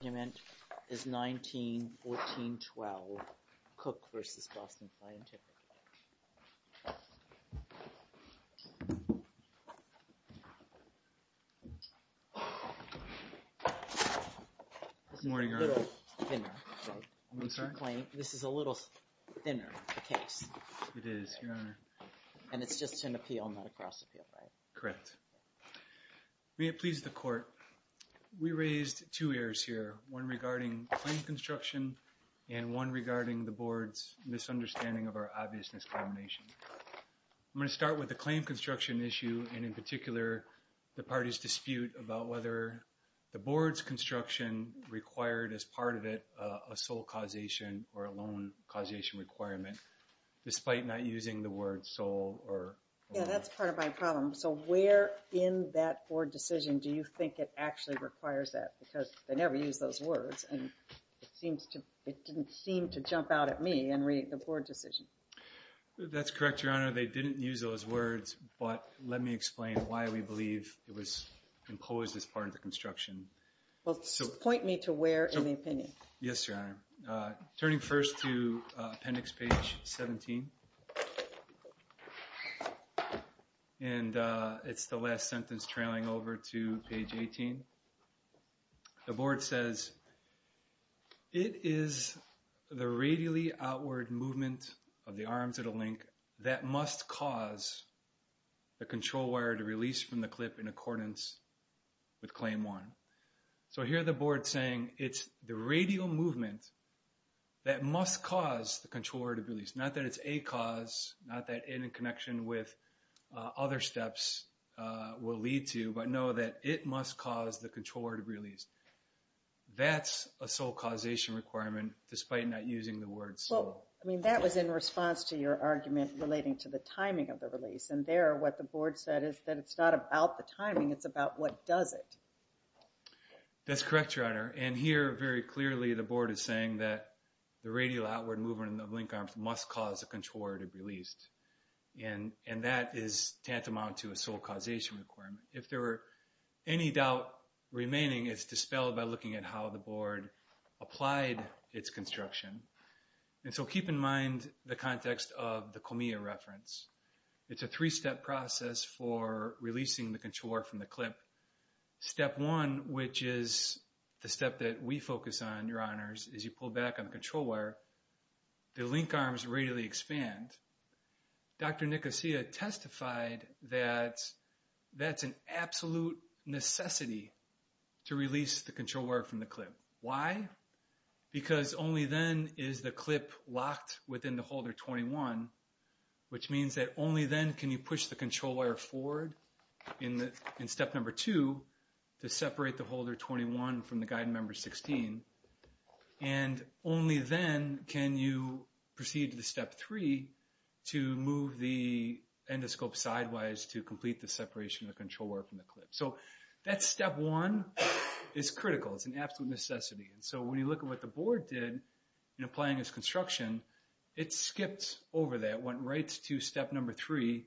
The argument is 1914-12, Cook v. Boston Scientific. Good morning, Your Honor. This is a little thinner, the case. It is, Your Honor. And it's just an appeal, not a cross-appeal, right? Correct. May it please the Court. We raised two errors here, one regarding claim construction and one regarding the Board's misunderstanding of our obvious miscombination. I'm going to start with the claim construction issue, and in particular the party's dispute about whether the Board's construction required as part of it a sole causation or a loan causation requirement, despite not using the word sole or loan. Yeah, that's part of my problem. So where in that Board decision do you think it actually requires that? Because they never use those words, and it didn't seem to jump out at me in reading the Board decision. That's correct, Your Honor. They didn't use those words, but let me explain why we believe it was imposed as part of the construction. Point me to where in the opinion. Yes, Your Honor. Turning first to Appendix Page 17. And it's the last sentence trailing over to Page 18. The Board says, it is the radially outward movement of the arms at a link that must cause the control wire to release from the clip in accordance with Claim 1. So here the Board's saying, it's the radial movement that must cause the control wire to be released. Not that it's a cause, not that it in connection with other steps will lead to, but know that it must cause the control wire to be released. That's a sole causation requirement despite not using the word sole. Well, I mean that was in response to your argument relating to the timing of the release. And there what the Board said is that it's not about the timing, it's about what does it. That's correct, Your Honor. And here very clearly the Board is saying that the radial outward movement of the link arms must cause the control wire to be released. And that is tantamount to a sole causation requirement. If there were any doubt remaining, it's dispelled by looking at how the Board applied its construction. And so keep in mind the context of the COMIA reference. It's a three-step process for releasing the control wire from the clip. Step one, which is the step that we focus on, Your Honors, is you pull back on the control wire. The link arms radially expand. Dr. Nicosia testified that that's an absolute necessity to release the control wire from the clip. Why? Because only then is the clip locked within the holder 21, which means that only then can you push the control wire forward in step number 2 to separate the holder 21 from the guide member 16. And only then can you proceed to the step 3 to move the endoscope sideways to complete the separation of the control wire from the clip. So that's step one. It's critical. It's an absolute necessity. And so when you look at what the Board did in applying its construction, it skipped over that, went right to step number 3,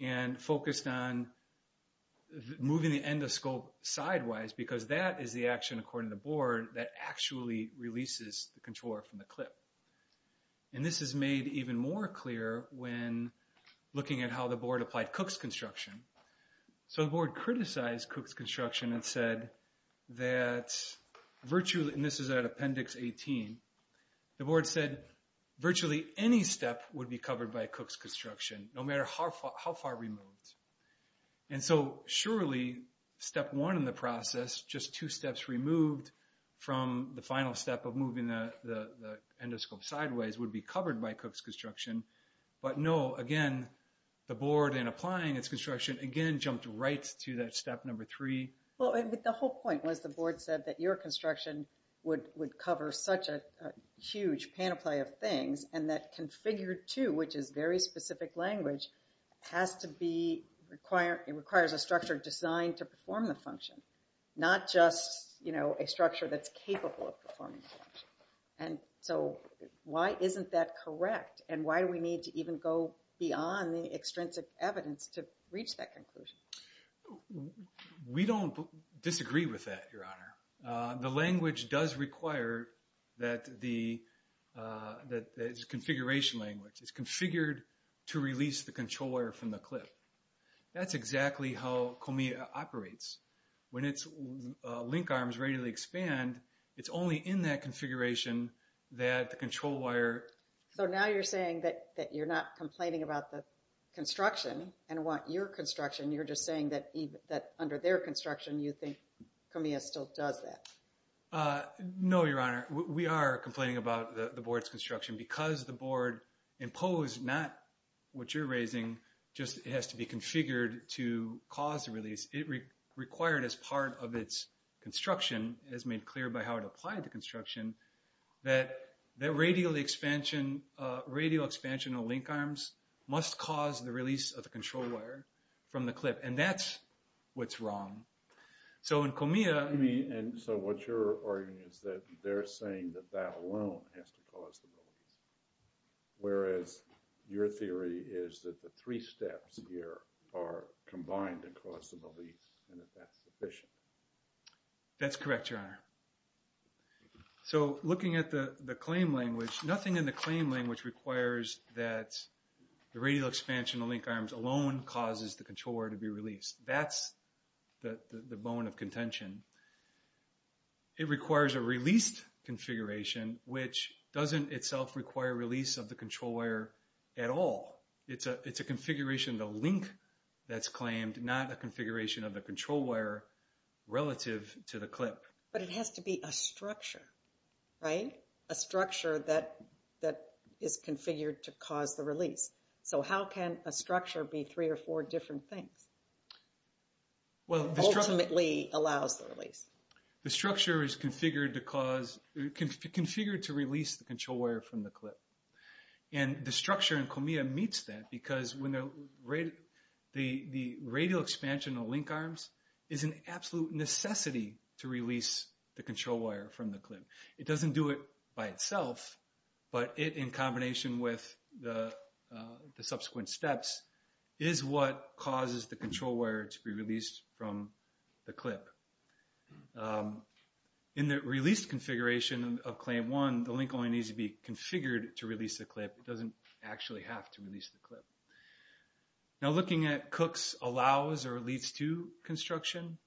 and focused on moving the endoscope sideways because that is the action, according to the Board, that actually releases the control wire from the clip. And this is made even more clear when looking at how the Board applied Cook's construction. So the Board criticized Cook's construction and said that virtually, and this is at Appendix 18, the Board said virtually any step would be covered by Cook's construction, no matter how far removed. And so surely step one in the process, just two steps removed from the final step of moving the endoscope sideways, would be covered by Cook's construction. But no, again, the Board, in applying its construction, again jumped right to that step number 3. Well, the whole point was the Board said that your construction would cover such a huge panoply of things, and that Configure 2, which is very specific language, has to be, requires a structure designed to perform the function, not just, you know, a structure that's capable of performing the function. And so why isn't that correct? And why do we need to even go beyond the extrinsic evidence to reach that conclusion? We don't disagree with that, Your Honor. The language does require that the configuration language is configured to release the control wire from the clip. That's exactly how COMIA operates. When its link arms radially expand, it's only in that configuration that the control wire... So now you're saying that you're not complaining about the construction and want your construction. You're just saying that under their construction, you think COMIA still does that. No, Your Honor. We are complaining about the Board's construction because the Board imposed not what you're raising, just it has to be configured to cause a release. It required as part of its construction, as made clear by how it applied to construction, that radial expansion of link arms must cause the release of the control wire from the clip. And that's what's wrong. So in COMIA... And so what you're arguing is that they're saying that that alone has to cause the release. Whereas your theory is that the three steps here are combined to cause the release and that that's sufficient. That's correct, Your Honor. So looking at the claim language, nothing in the claim language requires that the radial expansion of link arms alone causes the control wire to be released. That's the bone of contention. It requires a released configuration, which doesn't itself require release of the control wire at all. It's a configuration of the link that's claimed, not a configuration of the control wire relative to the clip. But it has to be a structure, right? A structure that is configured to cause the release. So how can a structure be three or four different things that ultimately allows the release? The structure is configured to cause... configured to release the control wire from the clip. And the structure in COMIA meets that because when the radial expansion of link arms is an absolute necessity to release the control wire from the clip. It doesn't do it by itself, but it, in combination with the subsequent steps, is what causes the control wire to be released from the clip. In the released configuration of Claim 1, the link only needs to be configured to release the clip. It doesn't actually have to release the clip. Now looking at Cook's allows or leads to construction,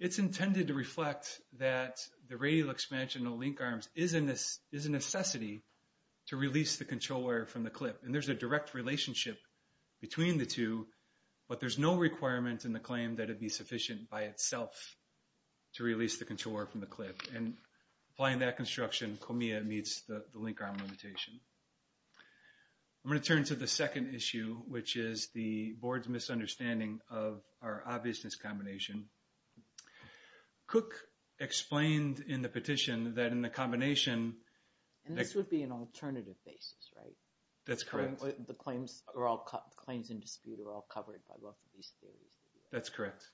it's intended to reflect that the radial expansion of link arms is a necessity to release the control wire from the clip. And there's a direct relationship between the two, but there's no requirement in the claim that it be sufficient by itself to release the control wire from the clip. And applying that construction, COMIA meets the link arm limitation. I'm going to turn to the second issue, which is the board's misunderstanding of our obviousness combination. Cook explained in the petition that in the combination... And this would be an alternative basis, right? That's correct. The claims in dispute are all covered by both of these theories. That's correct.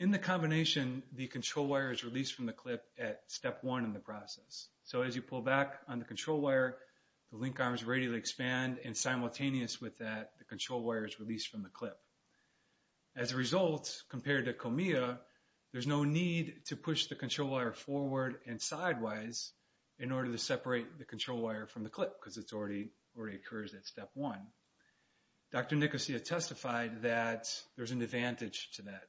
In the combination, the control wire is released from the clip at Step 1 in the process. So as you pull back on the control wire, the link arms radially expand, and simultaneous with that, the control wire is released from the clip. As a result, compared to COMIA, there's no need to push the control wire forward and sideways in order to separate the control wire from the clip, because it already occurs at Step 1. Dr. Nicosia testified that there's an advantage to that.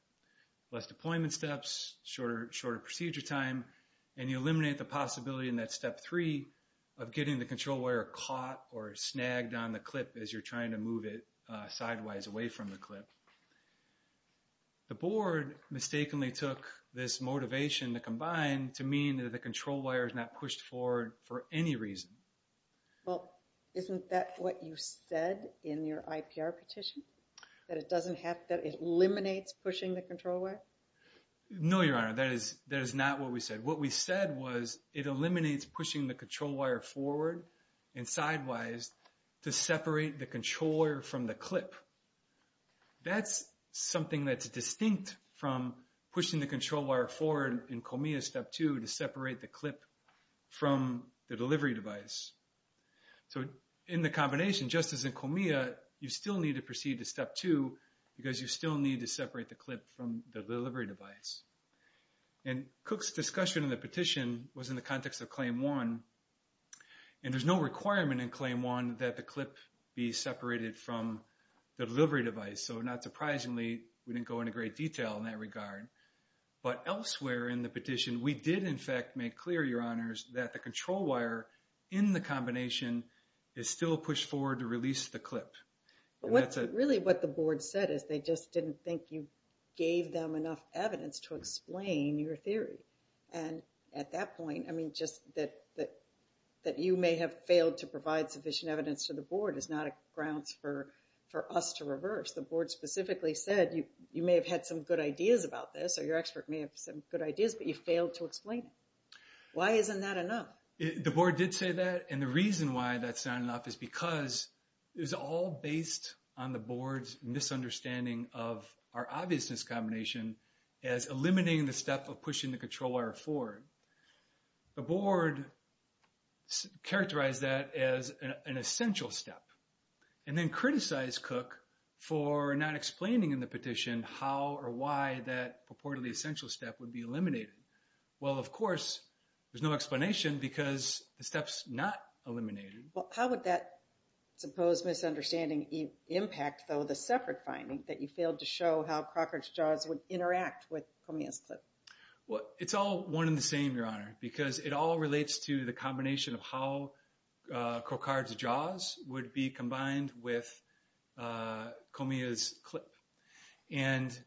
Less deployment steps, shorter procedure time, and you eliminate the possibility in that Step 3 of getting the control wire caught or snagged on the clip as you're trying to move it sideways away from the clip. The board mistakenly took this motivation to combine to mean that the control wire is not pushed forward for any reason. Well, isn't that what you said in your IPR petition? That it eliminates pushing the control wire? No, Your Honor, that is not what we said. What we said was it eliminates pushing the control wire forward and sideways to separate the control wire from the clip. That's something that's distinct from pushing the control wire forward in COMIA Step 2 to separate the clip from the delivery device. So in the combination, just as in COMIA, you still need to proceed to Step 2, because you still need to separate the clip from the delivery device. And Cook's discussion in the petition was in the context of Claim 1, and there's no requirement in Claim 1 that the clip be separated from the delivery device. So not surprisingly, we didn't go into great detail in that regard. But elsewhere in the petition, we did in fact make clear, Your Honors, that the control wire in the combination is still pushed forward to release the clip. Really what the board said is they just didn't think you gave them enough evidence to explain your theory. And at that point, I mean, just that you may have failed to provide sufficient evidence to the board is not a grounds for us to reverse. The board specifically said you may have had some good ideas about this, or your expert may have some good ideas, but you failed to explain it. Why isn't that enough? The board did say that, and the reason why that's not enough is because it was all based on the board's misunderstanding of our obviousness in the combination as eliminating the step of pushing the control wire forward. The board characterized that as an essential step, and then criticized Cook for not explaining in the petition how or why that purportedly essential step would be eliminated. Well, of course, there's no explanation because the step's not eliminated. Well, how would that supposed misunderstanding impact, though, the separate finding that you failed to show how Crockard's jaws would interact with Comia's clip? Well, it's all one and the same, Your Honor, because it all relates to the combination of how Crockard's jaws would be combined with Comia's clip. And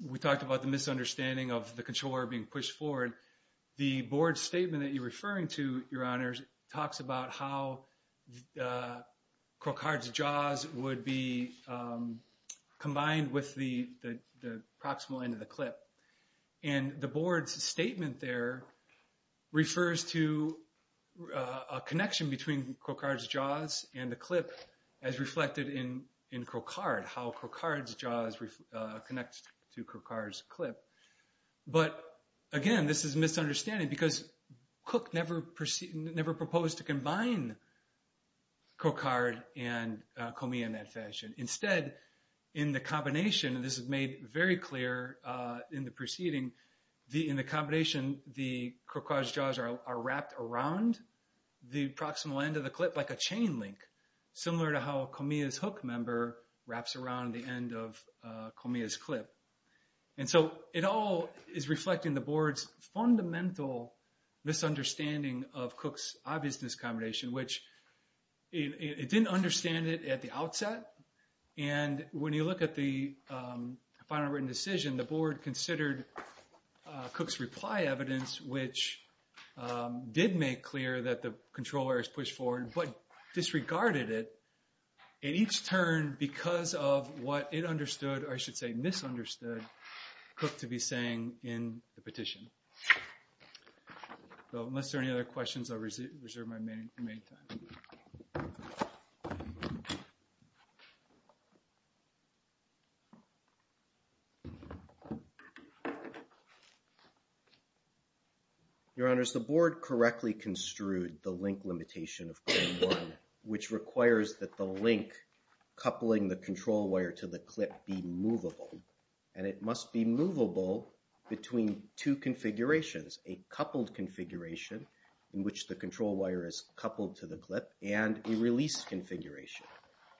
we talked about the misunderstanding of the control wire being pushed forward. The board statement that you're referring to, Your Honors, talks about how Crockard's jaws would be combined with the proximal end of the clip. And the board's statement there refers to a connection between Crockard's jaws and the clip as reflected in Crockard, how Crockard's jaws connect to Crockard's clip. But, again, this is a misunderstanding because Cook never proposed to combine Crockard and Comia in that fashion. Instead, in the combination, and this is made very clear in the proceeding, in the combination, the Crockard's jaws are wrapped around the proximal end of the clip like a chain link, similar to how Comia's hook member wraps around the end of Comia's clip. And so it all is reflecting the board's fundamental misunderstanding of Cook's obvious discombination, which it didn't understand it at the outset. And when you look at the final written decision, the board considered Cook's reply evidence, which did make clear that the control wire is pushed forward, but disregarded it in each turn because of what it understood, or I should say misunderstood, Cook to be saying in the petition. So unless there are any other questions, I'll reserve my remaining time. Your Honors, the board correctly construed the link limitation of claim one, which requires that the link coupling the control wire to the clip be movable. And it must be movable between two configurations, a coupled configuration, in which the control wire is coupled to the clip, and a release configuration,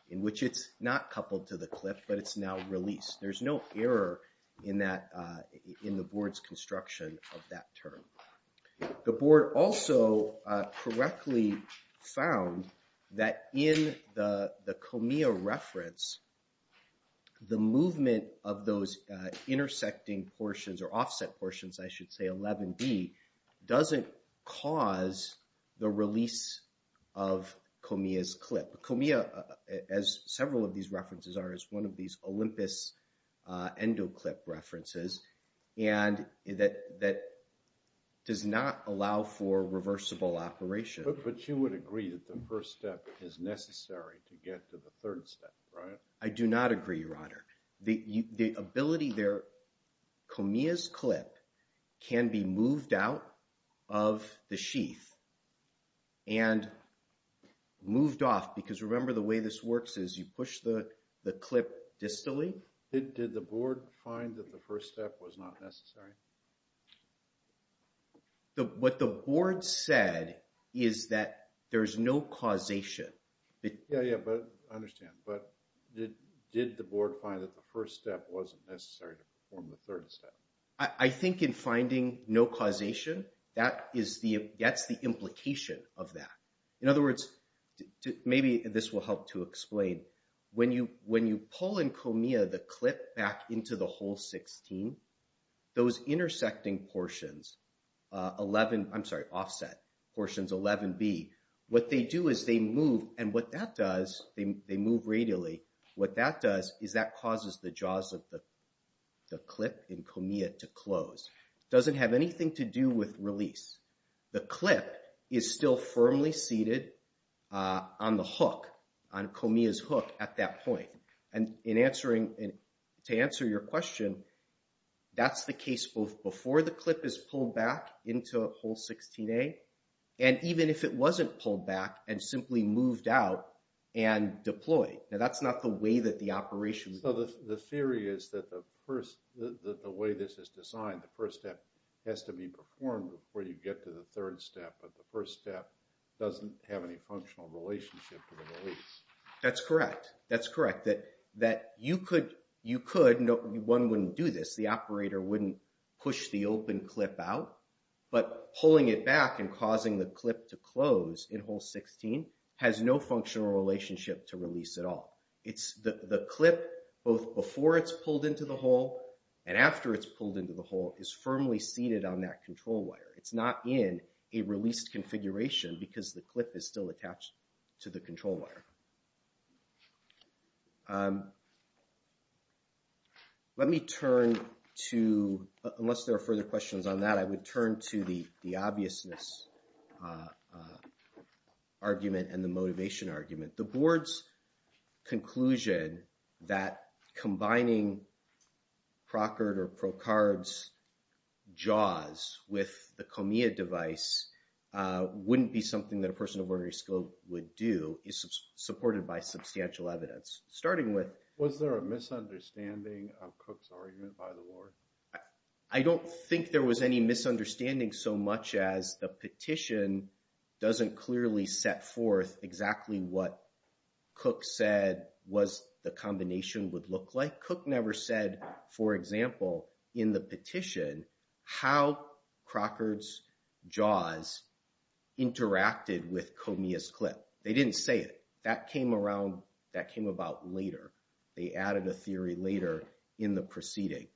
in which it's not coupled to the clip, but it's now released. There's no error in the board's construction of that term. The board also correctly found that in the Comia reference, the movement of those intersecting portions, or offset portions, I should say, 11D, doesn't cause the release of Comia's clip. Comia, as several of these references are, is one of these Olympus endoclip references, and that does not allow for reversible operation. But you would agree that the first step is necessary to get to the third step, right? I do not agree, Your Honor. The ability there, Comia's clip can be moved out of the sheath and moved off, because remember the way this works is you push the clip distally. Did the board find that the first step was not necessary? What the board said is that there's no causation. Yeah, yeah, but I understand. But did the board find that the first step wasn't necessary to perform the third step? I think in finding no causation, that's the implication of that. In other words, maybe this will help to explain. When you pull in Comia the clip back into the hole 16, those intersecting portions, 11, I'm sorry, offset portions, 11B, what they do is they move, and what that does, they move radially, what that does is that causes the jaws of the clip in Comia to close. It doesn't have anything to do with release. The clip is still firmly seated on the hook, on Comia's hook at that point. And in answering, to answer your question, that's the case both before the clip is pulled back into hole 16A, and even if it wasn't pulled back and simply moved out and deployed. Now that's not the way that the operation was done. So the theory is that the way this is designed, the first step has to be performed before you get to the third step, but the first step doesn't have any functional relationship to the release. That's correct. That's correct. That you could, one wouldn't do this. The operator wouldn't push the open clip out, but pulling it back and causing the clip to close in hole 16 has no functional relationship to release at all. The clip, both before it's pulled into the hole and after it's pulled into the hole, is firmly seated on that control wire. It's not in a released configuration because the clip is still attached to the control wire. Let me turn to, unless there are further questions on that, I would turn to the obviousness argument and the motivation argument. The Board's conclusion that combining Procord or ProCard's JAWS with the COMIA device wouldn't be something that a person of ordinary skill would do is supported by substantial evidence, starting with... Was there a misunderstanding of Cook's argument by the Board? I don't think there was any misunderstanding so much as the petition doesn't clearly set forth exactly what Cook said was the combination would look like. Cook never said, for example, in the petition, how Procord's JAWS interacted with COMIA's clip. They didn't say it. That came about later. They added a theory later in the proceeding.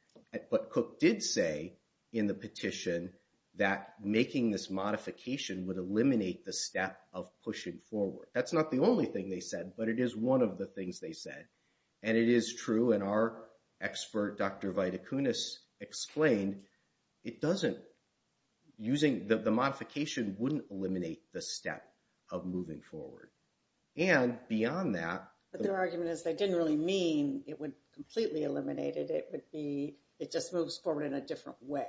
But Cook did say in the petition that making this modification would eliminate the step of pushing forward. That's not the only thing they said, but it is one of the things they said. And it is true, and our expert, Dr. Vida Kunis, explained the modification wouldn't eliminate the step of moving forward. And beyond that... It just moves forward in a different way.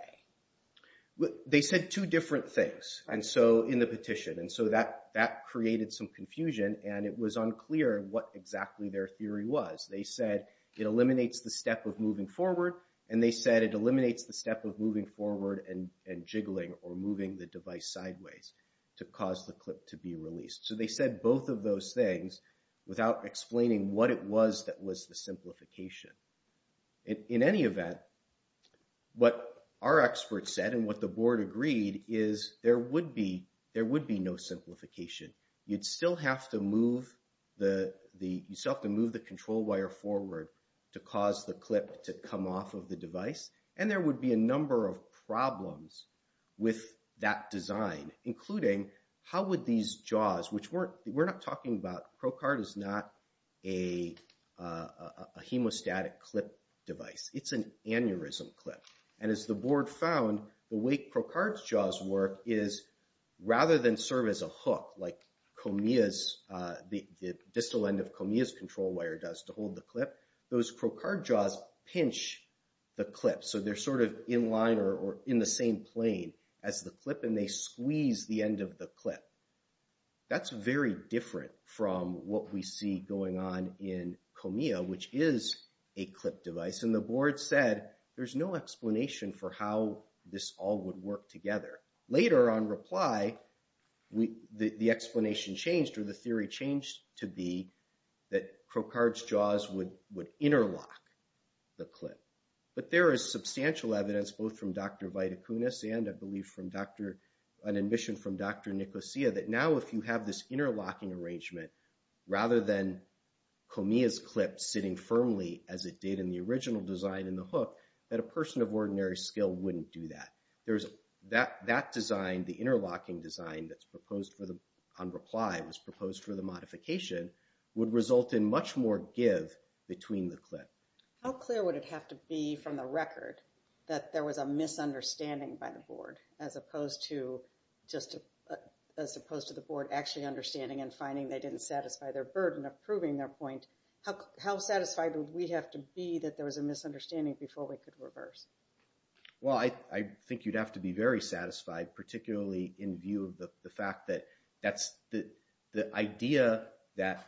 They said two different things in the petition, and so that created some confusion, and it was unclear what exactly their theory was. They said it eliminates the step of moving forward, and they said it eliminates the step of moving forward and jiggling or moving the device sideways to cause the clip to be released. So they said both of those things without explaining what it was that was the simplification. In any event, what our expert said and what the board agreed is there would be no simplification. You'd still have to move the control wire forward to cause the clip to come off of the device, and there would be a number of problems with that design, including how would these JAWS, which we're not talking about. ProCard is not a hemostatic clip device. It's an aneurysm clip. And as the board found, the way ProCard's JAWS work is rather than serve as a hook like the distal end of Comia's control wire does to hold the clip, those ProCard JAWS pinch the clip, so they're sort of in line or in the same plane as the clip, and they squeeze the end of the clip. That's very different from what we see going on in Comia, which is a clip device. And the board said there's no explanation for how this all would work together. Later on reply, the explanation changed, or the theory changed to be that ProCard's JAWS would interlock the clip. But there is substantial evidence both from Dr. Viticunas and I believe from an admission from Dr. Nicosia that now if you have this interlocking arrangement, rather than Comia's clip sitting firmly as it did in the original design in the hook, that a person of ordinary skill wouldn't do that. That design, the interlocking design that's proposed on reply, was proposed for the modification, would result in much more give between the clip. How clear would it have to be from the record that there was a misunderstanding by the board, as opposed to the board actually understanding and finding they didn't satisfy their burden of proving their point? How satisfied would we have to be that there was a misunderstanding before we could reverse? Well, I think you'd have to be very satisfied, particularly in view of the fact that the idea that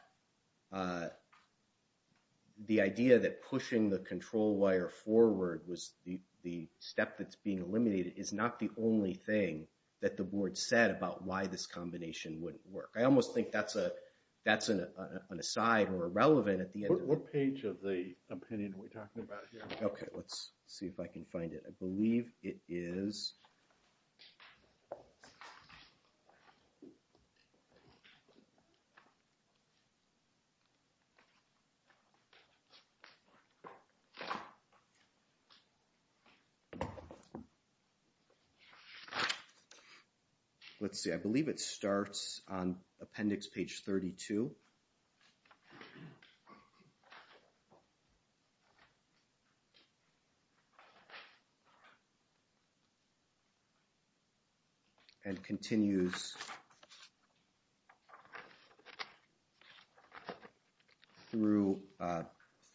pushing the control wire forward was the step that's being eliminated is not the only thing that the board said about why this combination wouldn't work. I almost think that's an aside or irrelevant at the end. What page of the opinion are we talking about here? Okay, let's see if I can find it. I believe it is. Let's see, I believe it starts on appendix page 32. And continues through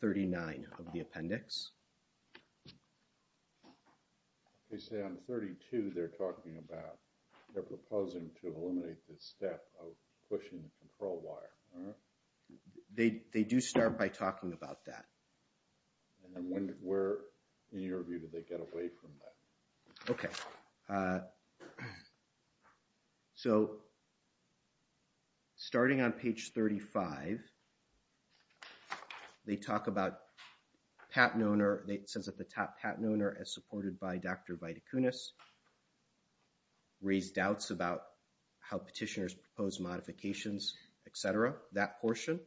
39 of the appendix. They say on 32 they're talking about, they're proposing to eliminate this step of pushing the control wire. They do start by talking about that. And where, in your view, did they get away from that? Okay. So, starting on page 35, they talk about patent owner, it says at the top, patent owner as supported by Dr. Viticunas. Raised doubts about how petitioners proposed modifications, etc. That portion.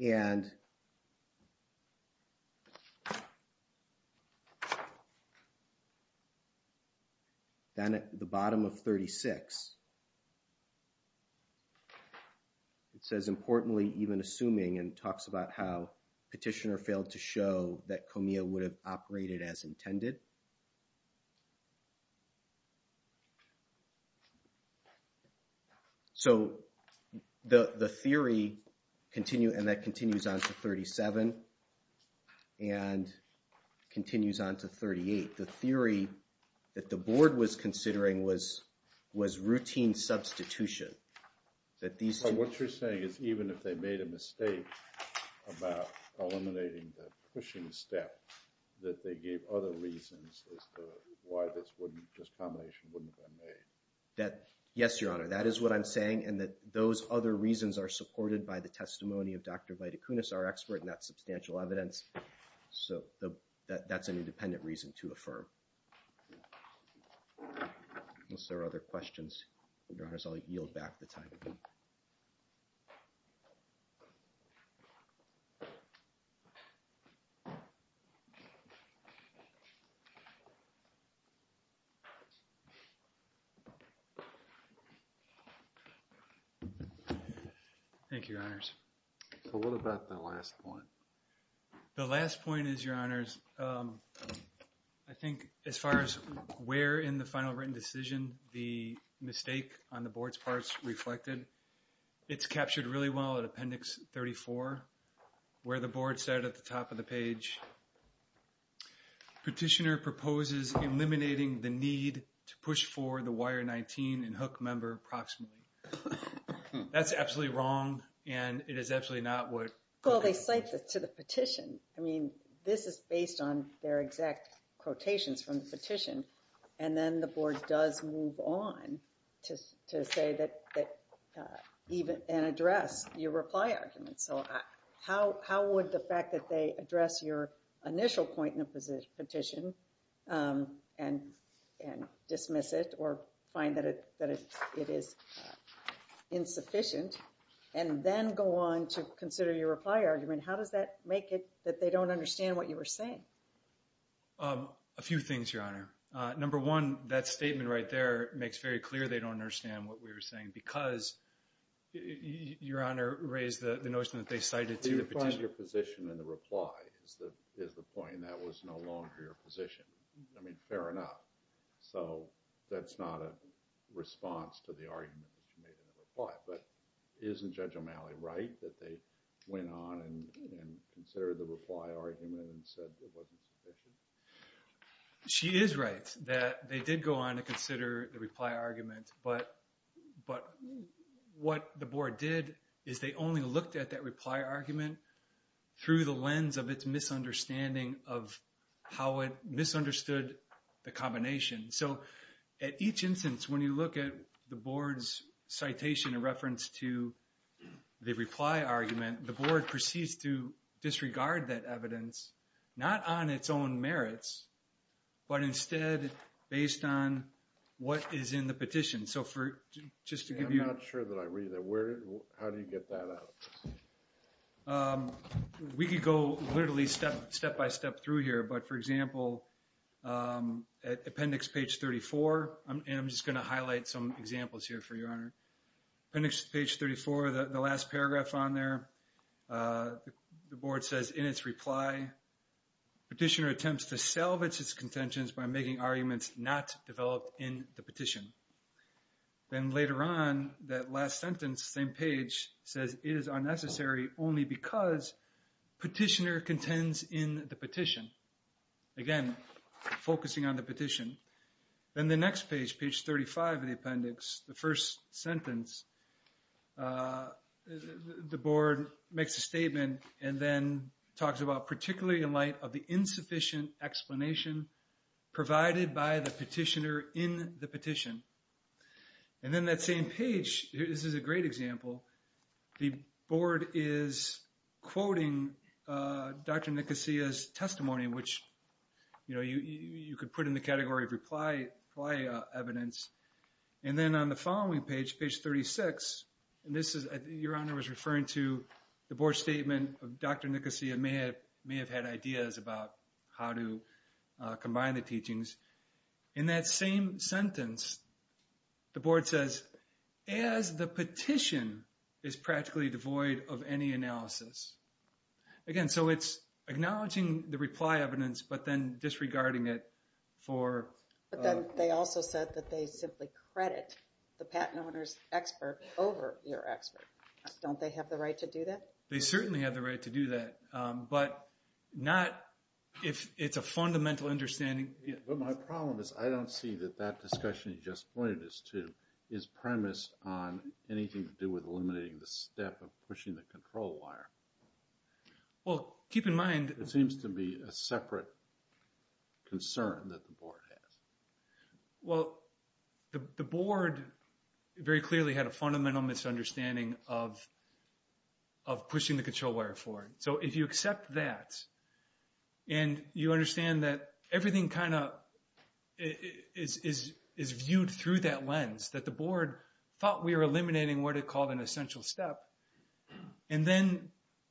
And then at the bottom of 36, it says importantly even assuming and talks about how petitioner should operate it as intended. So, the theory, and that continues on to 37. And continues on to 38. The theory that the board was considering was routine substitution. What you're saying is even if they made a mistake about eliminating the pushing step, that they gave other reasons as to why this combination wouldn't have been made. Yes, Your Honor, that is what I'm saying. And that those other reasons are supported by the testimony of Dr. Viticunas, our expert, and that's substantial evidence. So, that's an independent reason to affirm. Unless there are other questions. Your Honor, I'll yield back the time. Thank you, Your Honors. So, what about the last point? The last point is, Your Honors, I think as far as where in the final written decision the mistake on the board's part is reflected, it's captured really well in Appendix 34, where the board said at the top of the page, petitioner proposes eliminating the need to push forward the wire 19 and hook member approximately. That's absolutely wrong, and it is absolutely not what... Well, they cite it to the petition. I mean, this is based on their exact quotations from the petition. And then the board does move on to say that even... and address your reply argument. So, how would the fact that they address your initial point in the petition and dismiss it or find that it is insufficient and then go on to consider your reply argument, how does that make it that they don't understand what you were saying? A few things, Your Honor. Number one, that statement right there makes very clear they don't understand what we were saying because, Your Honor, raised the notion that they cited to the petition. They replied to your position in the reply is the point, and that was no longer your position. I mean, fair enough. So, that's not a response to the argument that you made in the reply. But isn't Judge O'Malley right that they went on and considered the reply argument and said it wasn't sufficient? She is right that they did go on to consider the reply argument, but what the board did is they only looked at that reply argument through the lens of its misunderstanding of how it misunderstood the combination. So, at each instance, when you look at the board's citation in reference to the reply argument, the board proceeds to disregard that evidence, not on its own merits, but instead based on what is in the petition. I'm not sure that I read that. How do you get that out? We could go literally step-by-step through here, but, for example, at appendix page 34, and I'm just going to highlight some examples here for your honor. Appendix page 34, the last paragraph on there, the board says, in its reply, petitioner attempts to salvage its contentions by making arguments not developed in the petition. Then later on, that last sentence, same page, says it is unnecessary only because petitioner contends in the petition. Again, focusing on the petition. Then the next page, page 35 of the appendix, the first sentence, the board makes a statement and then talks about particularly in light of the insufficient explanation provided by the petitioner in the petition. And then that same page, this is a great example, the board is quoting Dr. Nicosia's testimony, which you could put in the category of reply evidence. And then on the following page, page 36, your honor was referring to the board statement of Dr. Nicosia may have had ideas about how to combine the teachings. In that same sentence, the board says, as the petition is practically devoid of any analysis. Again, so it's acknowledging the reply evidence, but then disregarding it for... But then they also said that they simply credit the patent owner's expert over your expert. Don't they have the right to do that? They certainly have the right to do that, but not if it's a fundamental understanding. But my problem is I don't see that that discussion you just pointed us to is premised on anything to do with eliminating the step of pushing the control wire. Well, keep in mind... It seems to be a separate concern that the board has. Well, the board very clearly had a fundamental misunderstanding of pushing the control wire forward. So if you accept that, and you understand that everything kind of is viewed through that lens, that the board thought we were eliminating what it called an essential step, and then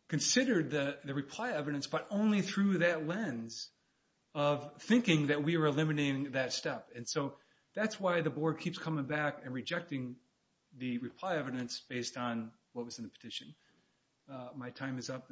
considered the reply evidence, but only through that lens of thinking that we were eliminating that step. And so that's why the board keeps coming back and rejecting the reply evidence based on what was in the petition. My time is up.